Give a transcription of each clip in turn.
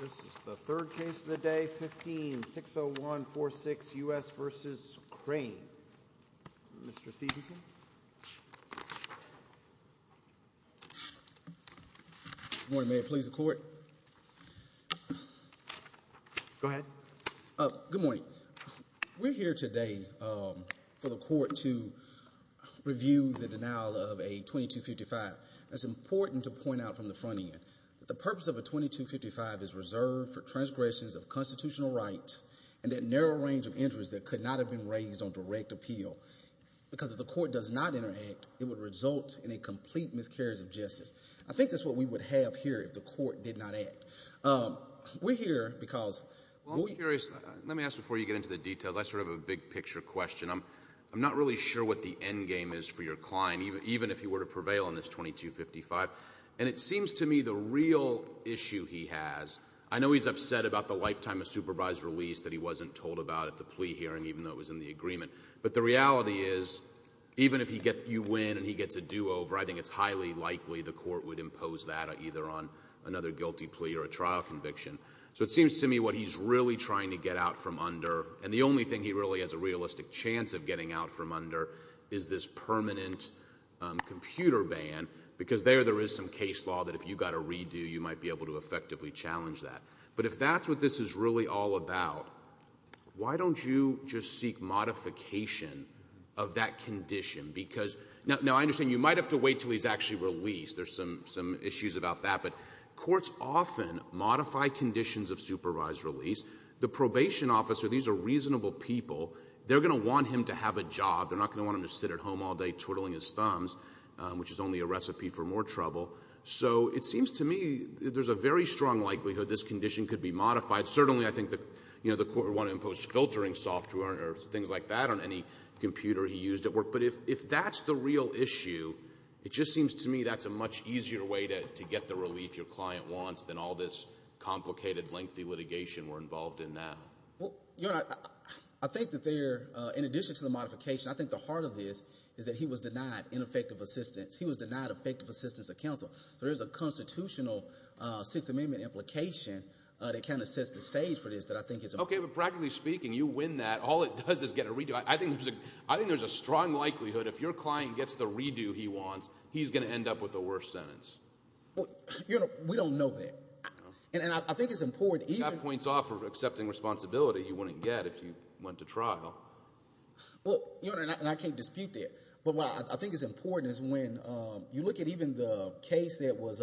This is the third case of the day, 15-601-46 U.S. v. Crain. Mr. Sebeson. Good morning. May it please the Court. Go ahead. Good morning. We're here today for the Court to review the denial of a 2255. It's important to point out from the front end that the purpose of a 2255 is reserved for transgressions of constitutional rights and that narrow range of injuries that could not have been raised on direct appeal. Because if the Court does not interact, it would result in a complete miscarriage of justice. I think that's what we would have here if the Court did not act. We're here because— Well, I'm curious. Let me ask before you get into the details. That's sort of a big-picture question. I'm not really sure what the endgame is for your client, even if he were to prevail on this 2255. And it seems to me the real issue he has—I know he's upset about the lifetime of supervised release that he wasn't told about at the plea hearing, even though it was in the agreement. But the reality is, even if you win and he gets a do-over, I think it's highly likely the Court would impose that either on another guilty plea or a trial conviction. So it seems to me what he's really trying to get out from under, and the only thing he really has a realistic chance of getting out from under, is this permanent computer ban. Because there, there is some case law that if you've got to redo, you might be able to effectively challenge that. But if that's what this is really all about, why don't you just seek modification of that condition? Now, I understand you might have to wait until he's actually released. There's some issues about that. But courts often modify conditions of supervised release. The probation officer, these are reasonable people. They're going to want him to have a job. They're not going to want him to sit at home all day twiddling his thumbs, which is only a recipe for more trouble. So it seems to me there's a very strong likelihood this condition could be modified. Certainly, I think the Court would want to impose filtering software or things like that on any computer he used at work. But if that's the real issue, it just seems to me that's a much easier way to get the relief your client wants than all this complicated, lengthy litigation we're involved in now. Well, Your Honor, I think that there, in addition to the modification, I think the heart of this is that he was denied ineffective assistance. He was denied effective assistance of counsel. There is a constitutional Sixth Amendment implication that kind of sets the stage for this that I think is important. Okay, but practically speaking, you win that. All it does is get a redo. I think there's a strong likelihood if your client gets the redo he wants, he's going to end up with the worst sentence. Well, Your Honor, we don't know that. And I think it's important. That points off of accepting responsibility he wouldn't get if he went to trial. Well, Your Honor, and I can't dispute that. But what I think is important is when you look at even the case that was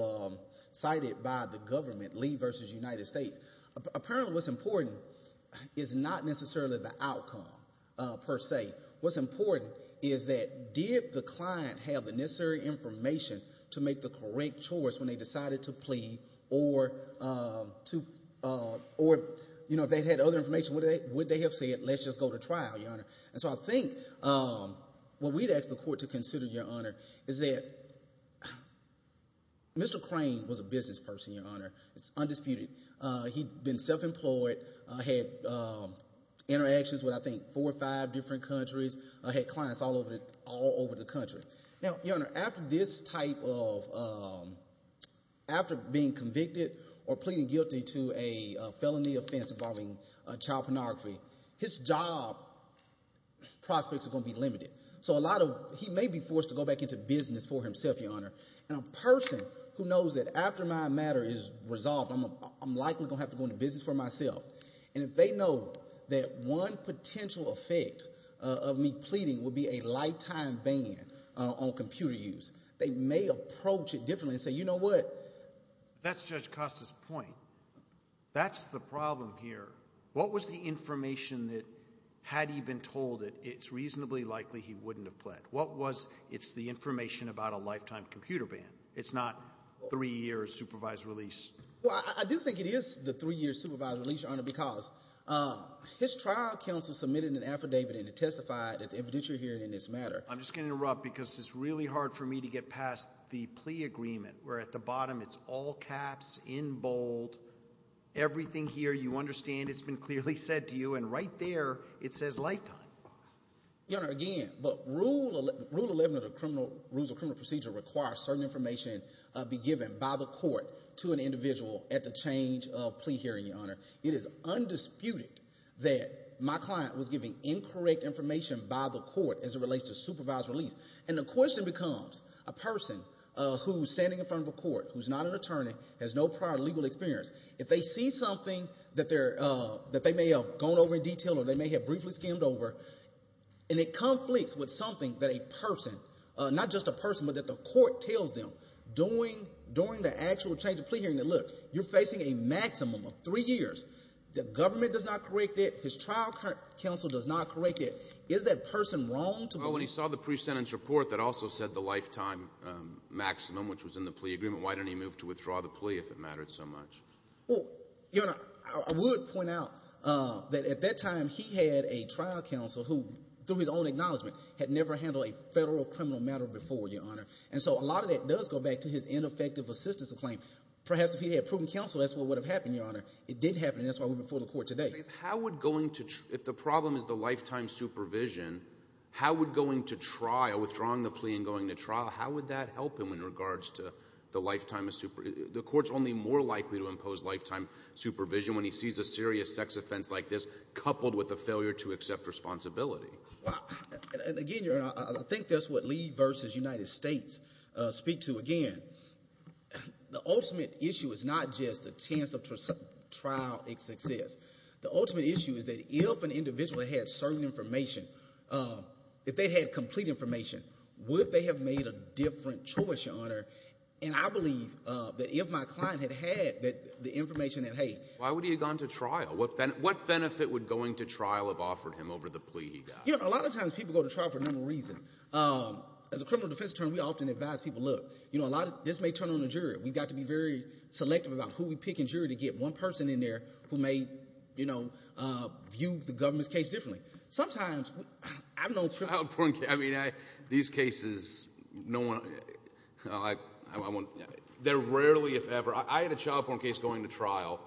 cited by the government, Lee v. United States, apparently what's important is not necessarily the outcome, per se. What's important is that did the client have the necessary information to make the correct choice when they decided to plea or, you know, if they had other information, would they have said let's just go to trial, Your Honor? And so I think what we'd ask the court to consider, Your Honor, is that Mr. Crane was a business person, Your Honor. It's undisputed. He'd been self-employed, had interactions with I think four or five different countries, had clients all over the country. Now, Your Honor, after this type of – after being convicted or pleading guilty to a felony offense involving child pornography, his job prospects are going to be limited. So a lot of – he may be forced to go back into business for himself, Your Honor. And a person who knows that after my matter is resolved, I'm likely going to have to go into business for myself, and if they know that one potential effect of me pleading would be a lifetime ban on computer use, they may approach it differently and say, you know what? That's Judge Costa's point. That's the problem here. What was the information that had he been told that it's reasonably likely he wouldn't have pled? What was – it's the information about a lifetime computer ban. It's not three-year supervised release. Well, I do think it is the three-year supervised release, Your Honor, because his trial counsel submitted an affidavit and it testified at the evidentiary hearing in this matter. I'm just going to interrupt because it's really hard for me to get past the plea agreement where at the bottom it's all caps, in bold, everything here you understand, it's been clearly said to you, and right there it says lifetime. Your Honor, again, Rule 11 of the criminal – Rules of Criminal Procedure requires certain information be given by the court to an individual at the change of plea hearing, Your Honor. It is undisputed that my client was giving incorrect information by the court as it relates to supervised release. And the question becomes, a person who's standing in front of a court who's not an attorney, has no prior legal experience, if they see something that they may have gone over in detail or they may have briefly skimmed over, and it conflicts with something that a person – not just a person, but that the court tells them during the actual change of plea hearing, that, look, you're facing a maximum of three years. The government does not correct it. His trial counsel does not correct it. Is that person wrong to believe? Well, when he saw the pre-sentence report that also said the lifetime maximum, which was in the plea agreement, why didn't he move to withdraw the plea if it mattered so much? Well, Your Honor, I would point out that at that time he had a trial counsel who, through his own acknowledgement, had never handled a federal criminal matter before, Your Honor. And so a lot of that does go back to his ineffective assistance claim. Perhaps if he had proven counsel, that's what would have happened, Your Honor. It didn't happen, and that's why we're before the court today. How would going to – if the problem is the lifetime supervision, how would going to trial, withdrawing the plea and going to trial, how would that help him in regards to the lifetime – the court's only more likely to impose lifetime supervision when he sees a serious sex offense like this coupled with a failure to accept responsibility. Wow. And, again, Your Honor, I think that's what Lee versus United States speak to. Again, the ultimate issue is not just the chance of trial success. The ultimate issue is that if an individual had certain information, if they had complete information, would they have made a different choice, Your Honor? And I believe that if my client had had the information that, hey – Why would he have gone to trial? What benefit would going to trial have offered him over the plea he got? You know, a lot of times people go to trial for a number of reasons. As a criminal defense attorney, we often advise people, look, you know, a lot of – this may turn on the jury. We've got to be very selective about who we pick in jury to get one person in there who may, you know, view the government's case differently. Sometimes – I don't know – Child porn – I mean, these cases, no one – they're rarely, if ever – I had a child porn case going to trial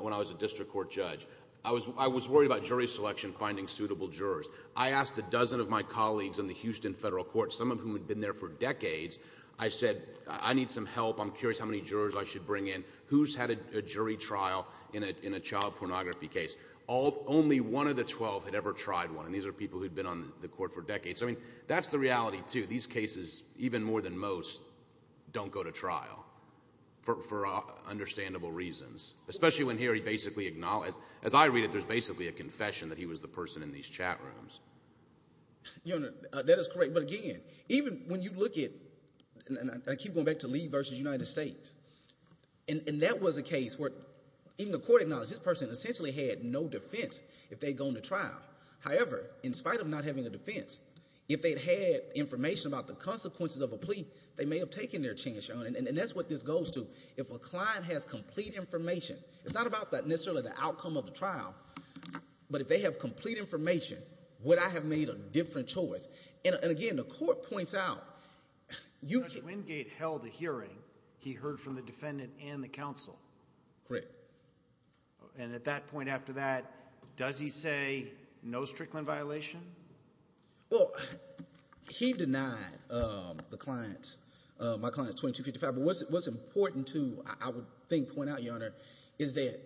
when I was a district court judge. I was worried about jury selection, finding suitable jurors. I asked a dozen of my colleagues in the Houston federal court, some of whom had been there for decades. I said, I need some help. I'm curious how many jurors I should bring in. Who's had a jury trial in a child pornography case? Only one of the 12 had ever tried one, and these are people who had been on the court for decades. I mean, that's the reality too. These cases, even more than most, don't go to trial for understandable reasons, especially when here he basically acknowledged – as I read it, there's basically a confession that he was the person in these chat rooms. Your Honor, that is correct. But again, even when you look at – and I keep going back to Lee versus United States. And that was a case where even the court acknowledged this person essentially had no defense if they'd gone to trial. However, in spite of not having a defense, if they'd had information about the consequences of a plea, they may have taken their chance, Your Honor, and that's what this goes to. If a client has complete information – it's not about necessarily the outcome of the trial, but if they have complete information, would I have made a different choice? And again, the court points out – Judge Wingate held a hearing. He heard from the defendant and the counsel. Correct. And at that point after that, does he say no Strickland violation? Well, he denied the client – my client's 2255. But what's important to, I would think, point out, Your Honor, is that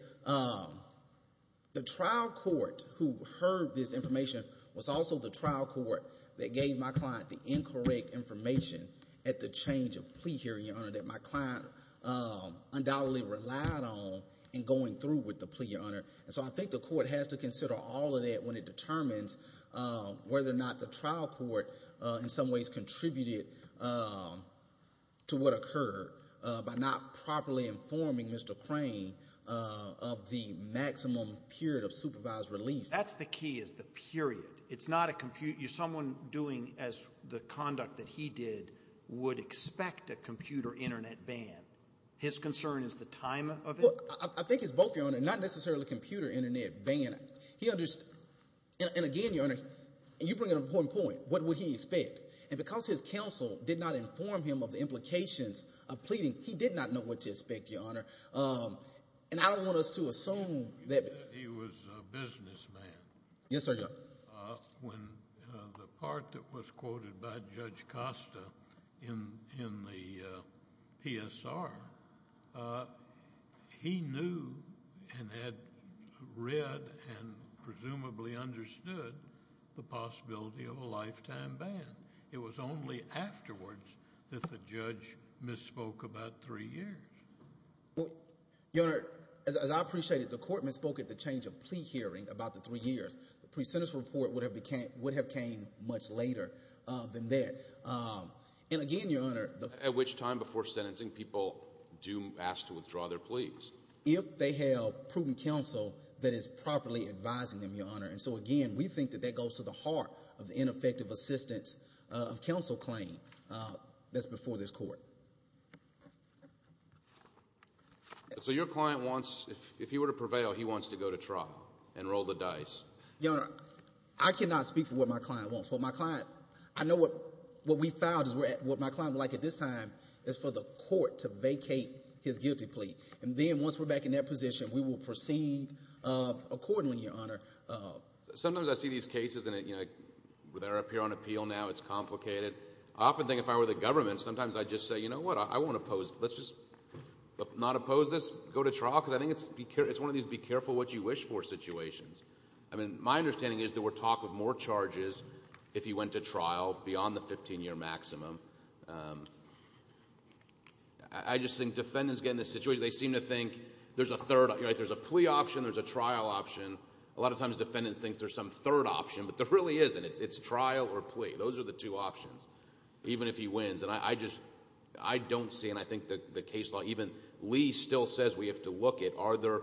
the trial court who heard this information was also the trial court that gave my client the incorrect information at the change of plea hearing, Your Honor, that my client undoubtedly relied on in going through with the plea, Your Honor. And so I think the court has to consider all of that when it determines whether or not the trial court, in some ways, contributed to what occurred by not properly informing Mr. Crane of the maximum period of supervised release. That's the key is the period. It's not a – someone doing the conduct that he did would expect a computer internet ban. His concern is the time of it? Well, I think it's both, Your Honor, not necessarily a computer internet ban. He understood – and again, Your Honor, you bring an important point. What would he expect? And because his counsel did not inform him of the implications of pleading, he did not know what to expect, Your Honor. And I don't want us to assume that – He said that he was a businessman. Yes, sir, Your Honor. When the part that was quoted by Judge Costa in the PSR, he knew and had read and presumably understood the possibility of a lifetime ban. It was only afterwards that the judge misspoke about three years. Your Honor, as I appreciate it, the court misspoke at the change of plea hearing about the three years. The pre-sentence report would have came much later than that. And again, Your Honor – At which time before sentencing people do ask to withdraw their pleas. If they have prudent counsel that is properly advising them, Your Honor. And so again, we think that that goes to the heart of the ineffective assistance of counsel claim that's before this court. So your client wants – if he were to prevail, he wants to go to trial and roll the dice. Your Honor, I cannot speak for what my client wants. What my client – I know what we filed is – what my client would like at this time is for the court to vacate his guilty plea. And then once we're back in that position, we will proceed accordingly, Your Honor. Sometimes I see these cases and they're up here on appeal now. It's complicated. I often think if I were the government, sometimes I'd just say, you know what, I won't oppose. Let's just not oppose this. Go to trial because I think it's one of these be careful what you wish for situations. I mean, my understanding is there were talk of more charges if he went to trial beyond the 15-year maximum. I just think defendants get in this situation. They seem to think there's a plea option. There's a trial option. A lot of times defendants think there's some third option. But there really isn't. It's trial or plea. Those are the two options, even if he wins. And I just – I don't see, and I think the case law – even Lee still says we have to look at, are there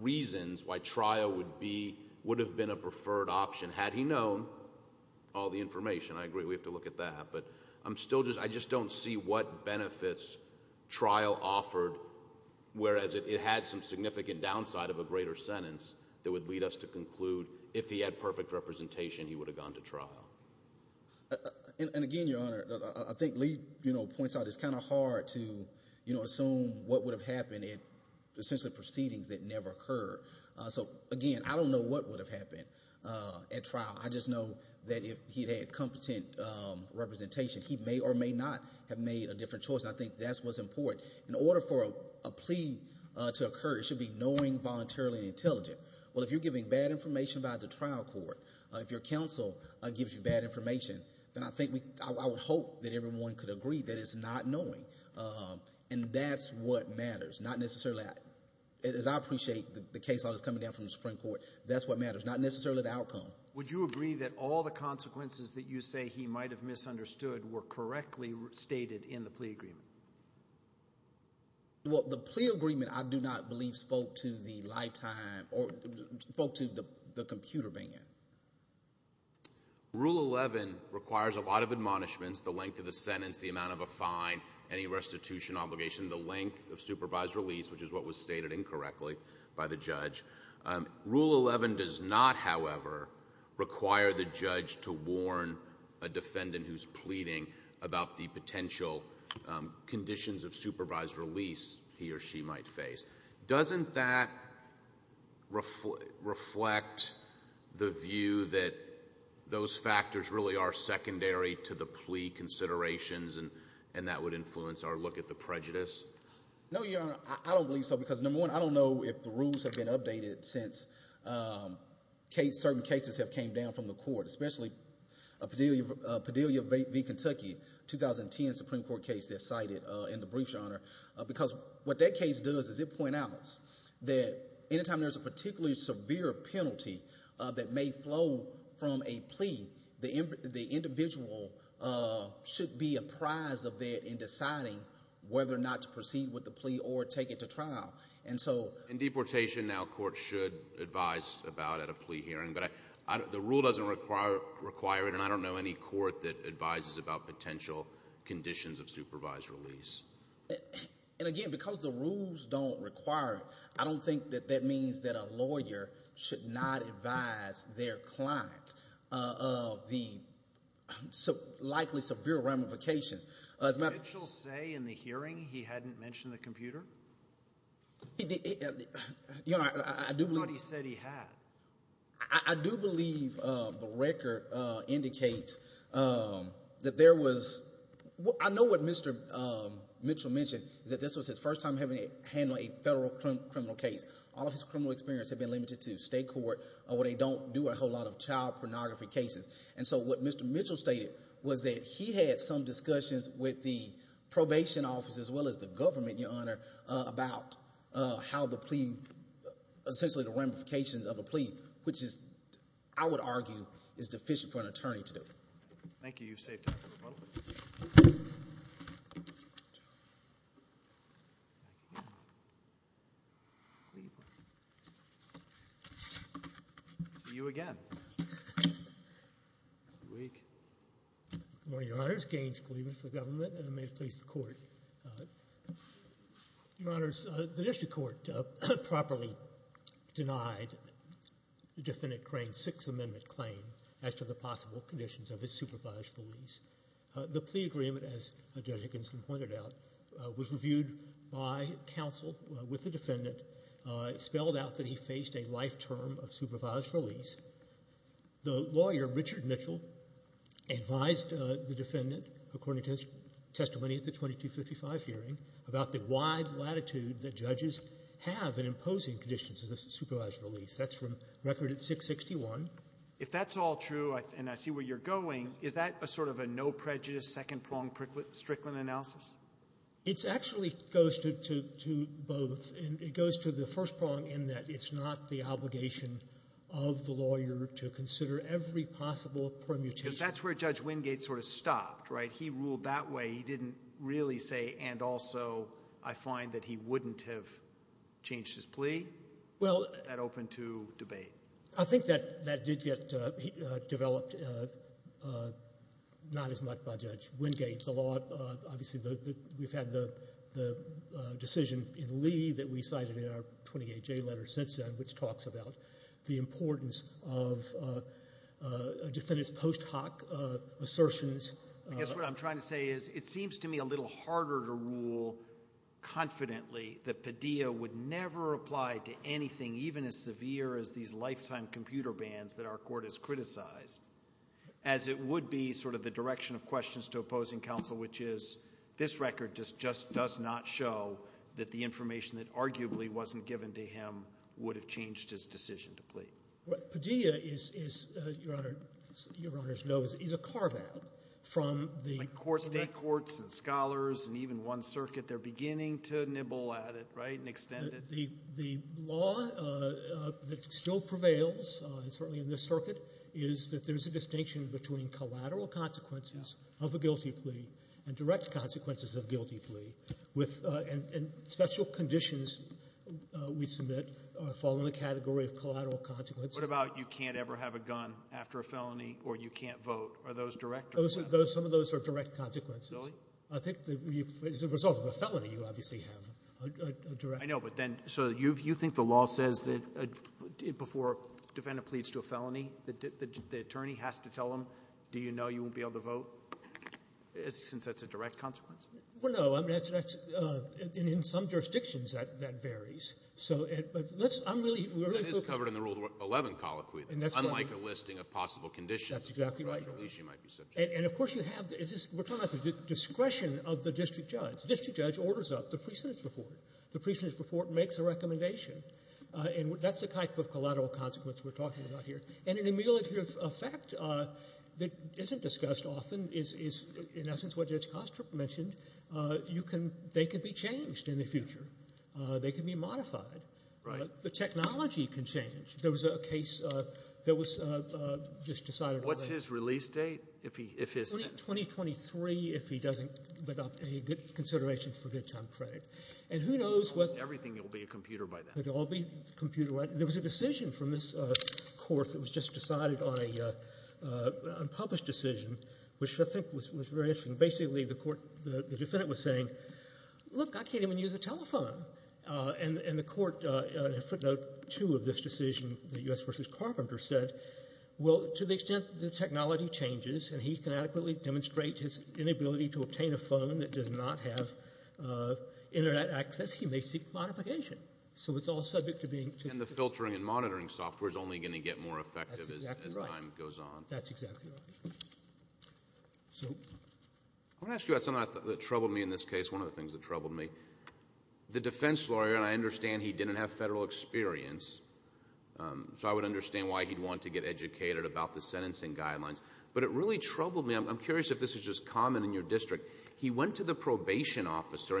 reasons why trial would be – would have been a preferred option had he known all the information. I agree we have to look at that, but I'm still just – I just don't see what benefits trial offered, whereas it had some significant downside of a greater sentence that would lead us to conclude if he had perfect representation, he would have gone to trial. And again, Your Honor, I think Lee points out it's kind of hard to assume what would have happened in the sense of proceedings that never occurred. So, again, I don't know what would have happened at trial. I just know that if he had competent representation, he may or may not have made a different choice, and I think that's what's important. In order for a plea to occur, it should be knowing, voluntarily, and intelligent. Well, if you're giving bad information about the trial court, if your counsel gives you bad information, then I think we – I would hope that everyone could agree that it's not knowing, and that's what matters, not necessarily – as I appreciate the case law that's coming down from the Supreme Court, that's what matters, not necessarily the outcome. Would you agree that all the consequences that you say he might have misunderstood were correctly stated in the plea agreement? Well, the plea agreement I do not believe spoke to the lifetime or spoke to the computer ban. Rule 11 requires a lot of admonishments, the length of the sentence, the amount of a fine, any restitution obligation, the length of supervised release, which is what was stated incorrectly by the judge. Rule 11 does not, however, require the judge to warn a defendant who's pleading about the potential conditions of supervised release he or she might face. Doesn't that reflect the view that those factors really are secondary to the plea considerations and that would influence our look at the prejudice? No, Your Honor, I don't believe so because, number one, I don't know if the rules have been updated since certain cases have came down from the court, especially Padilla v. Kentucky, a 2010 Supreme Court case that's cited in the brief, Your Honor, because what that case does is it points out that any time there's a particularly severe penalty that may flow from a plea, the individual should be apprised of that in deciding whether or not to proceed with the plea or take it to trial. In deportation now courts should advise about at a plea hearing, but the rule doesn't require it, and I don't know any court that advises about potential conditions of supervised release. And again, because the rules don't require it, I don't think that that means that a lawyer should not advise their client of the likely severe ramifications. Did Mitchell say in the hearing he hadn't mentioned the computer? He did, Your Honor. I thought he said he had. I do believe the record indicates that there wasóI know what Mr. Mitchell mentioned, that this was his first time handling a federal criminal case. All of his criminal experience had been limited to state court where they don't do a whole lot of child pornography cases. And so what Mr. Mitchell stated was that he had some discussions with the probation office as well as the government, Your Honor, about how the pleaóessentially the ramifications of a plea, which I would argue is deficient for an attorney to do. Thank you. You've saved time for a moment. See you again next week. Good morning, Your Honors. Gaines Cleveland for government, and may it please the Court. Your Honors, the district court properly denied the defendant Crane's Sixth Amendment claim as to the possible conditions of his supervised release. The plea agreement, as Judge Higginson pointed out, was reviewed by counsel with the defendant, spelled out that he faced a life term of supervised release. The lawyer, Richard Mitchell, advised the defendant, according to his testimony at the 2255 hearing, about the wide latitude that judges have in imposing conditions of the supervised release. That's from record at 661. If that's all true, and I see where you're going, is that a sort of a no-prejudice, second-pronged Strickland analysis? It actually goes to both. It goes to the first prong in that it's not the obligation of the lawyer to consider every possible permutation. Because that's where Judge Wingate sort of stopped, right? He ruled that way. He didn't really say, and also I find that he wouldn't have changed his plea. Welló Is that open to debate? I think that did get developed not as much by Judge Wingate. The lawóobviously, we've had the decision in Lee that we cited in our 28J letter since then, which talks about the importance of a defendant's post hoc assertionsó I guess what I'm trying to say is it seems to me a little harder to rule confidently that Padilla would never apply to anything even as severe as these lifetime computer bans that our Court has criticized, as it would be sort of the direction of questions to opposing counsel, which is this record just does not show that the information that arguably wasn't given to him would have changed his decision to plead. What Padilla is, Your Honor, Your Honor's know, is a carve-out from theó State courts and scholars and even one circuit, they're beginning to nibble at it, right, and extend it. The law that still prevails, certainly in this circuit, is that there's a distinction between collateral consequences of a guilty plea and direct consequences of a guilty plea, and special conditions we submit fall in the category of collateral consequences. What about you can't ever have a gun after a felony or you can't vote? Are those direct? Some of those are direct consequences. Really? I think as a result of a felony, you obviously have a directó I know, but then so you think the law says that before a defendant pleads to a felony, the attorney has to tell them, do you know you won't be able to vote, since that's a direct consequence? Well, no. In some jurisdictions, that varies. So let'sóI'm reallyó That is covered in the Rule 11 colloquy, unlike a listing of possible conditions. That's exactly right. And, of course, you haveówe're talking about the discretion of the district judge. The district judge orders up the precedence report. The precedence report makes a recommendation, and that's the type of collateral consequence we're talking about here. And an immediate effect that isn't discussed often is, in essence, what Judge Kostrup mentioned. They can be changed in the future. They can be modified. The technology can change. There was a case that was just decided onó What's his release date, if hisó 2023, if he doesn'tówithout any consideration for good time credit. And who knows wható Almost everything will be a computer by then. It will all be computerized. There was a decision from this court that was just decided on an unpublished decision, which I think was very interesting. Basically, the courtóthe defendant was saying, look, I can't even use a telephone. And the court, in footnote 2 of this decision, the U.S. v. Carpenter, said, well, to the extent the technology changes and he can adequately demonstrate his inability to obtain a phone that does not have Internet access, he may seek modification. So it's all subject to beingó And the filtering and monitoring software is only going to get more effective as time goes on. That's exactly right. That's exactly right. I want to ask you about something that troubled me in this case, one of the things that troubled me. The defense lawyeróand I understand he didn't have federal experience, so I would understand why he'd want to get educated about the sentencing guidelines. But it really troubled me. I'm curious if this is just common in your district. He went to the probation officer.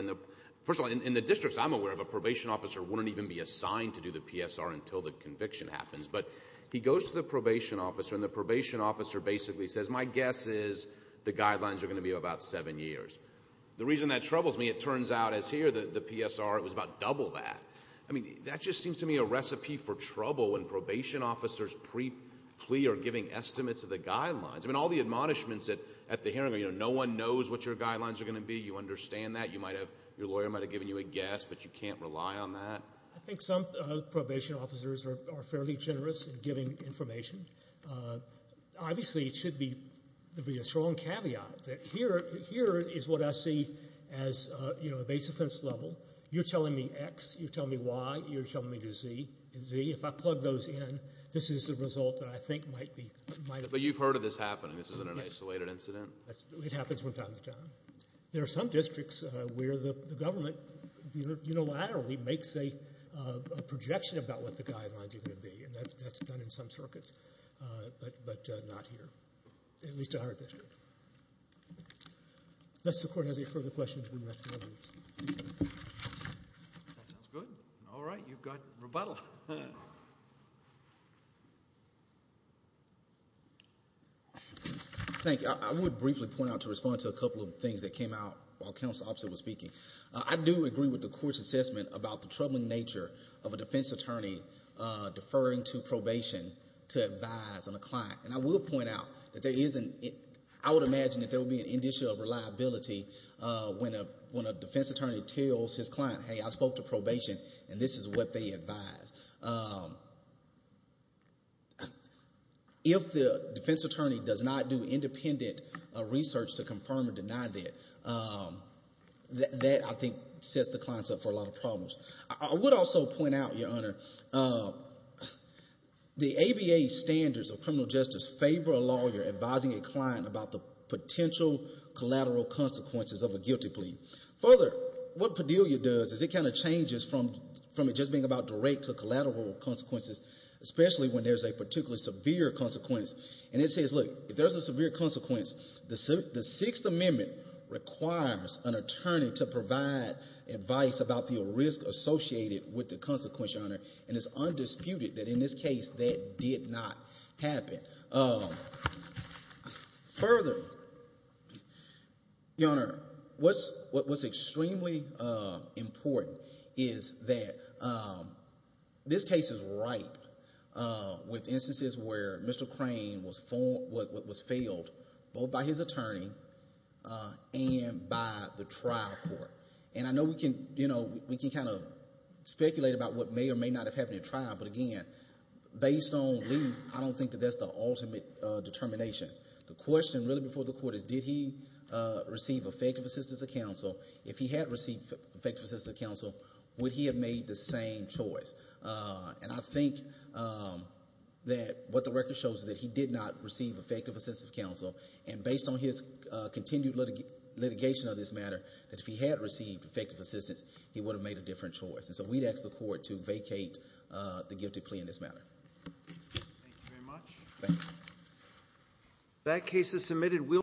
First of all, in the districts I'm aware of, a probation officer wouldn't even be assigned to do the PSR until the conviction happens. But he goes to the probation officer, and the probation officer basically says, my guess is the guidelines are going to be about seven years. The reason that troubles me, it turns out, as here, the PSR was about double that. I mean, that just seems to me a recipe for trouble when probation officers pre-plea are giving estimates of the guidelines. I mean, all the admonishments at the hearing are, you know, no one knows what your guidelines are going to be. You understand that. You might haveóyour lawyer might have given you a guess, but you can't rely on that. I think some probation officers are fairly generous in giving information. Obviously, it should be a strong caveat that here is what I see as, you know, a base offense level. You're telling me X. You're telling me Y. You're telling me Z. Z, if I plug those in, this is the result that I think might beó But you've heard of this happening. This isn't an isolated incident. It happens from time to time. There are some districts where the government unilaterally makes a projection about what the guidelines are going to be, and that's done in some circuits, but not here, at least in our district. Unless the Court has any further questions, we must move on. That sounds good. All right. You've got rebuttal. Thank you. I would briefly point out to respond to a couple of things that came out while Counsel Officer was speaking. I do agree with the Court's assessment about the troubling nature of a defense attorney deferring to probation to advise on a client, and I will point out that there isn'tó I would imagine that there would be an issue of reliability when a defense attorney tells his client, hey, I spoke to probation, and this is what they advised. If the defense attorney does not do independent research to confirm or deny that, that, I think, sets the clients up for a lot of problems. I would also point out, Your Honor, the ABA standards of criminal justice favor a lawyer advising a client about the potential collateral consequences of a guilty plea. Further, what Padilla does is it kind of changes from it just being about direct to collateral consequences, especially when there's a particularly severe consequence. And it says, look, if there's a severe consequence, the Sixth Amendment requires an attorney to provide advice about the risk associated with the consequence, Your Honor, and it's undisputed that in this case that did not happen. Further, Your Honor, what's extremely important is that this case is ripe with instances where Mr. Crane was filed, both by his attorney and by the trial court. And I know we can kind of speculate about what may or may not have happened at trial, but, again, based on Lee, I don't think that that's the ultimate determination. The question really before the court is, did he receive effective assistance of counsel? If he had received effective assistance of counsel, would he have made the same choice? And I think that what the record shows is that he did not receive effective assistance of counsel, and based on his continued litigation of this matter, that if he had received effective assistance, he would have made a different choice. And so we'd ask the court to vacate the gifted plea in this matter. Thank you very much. Thank you.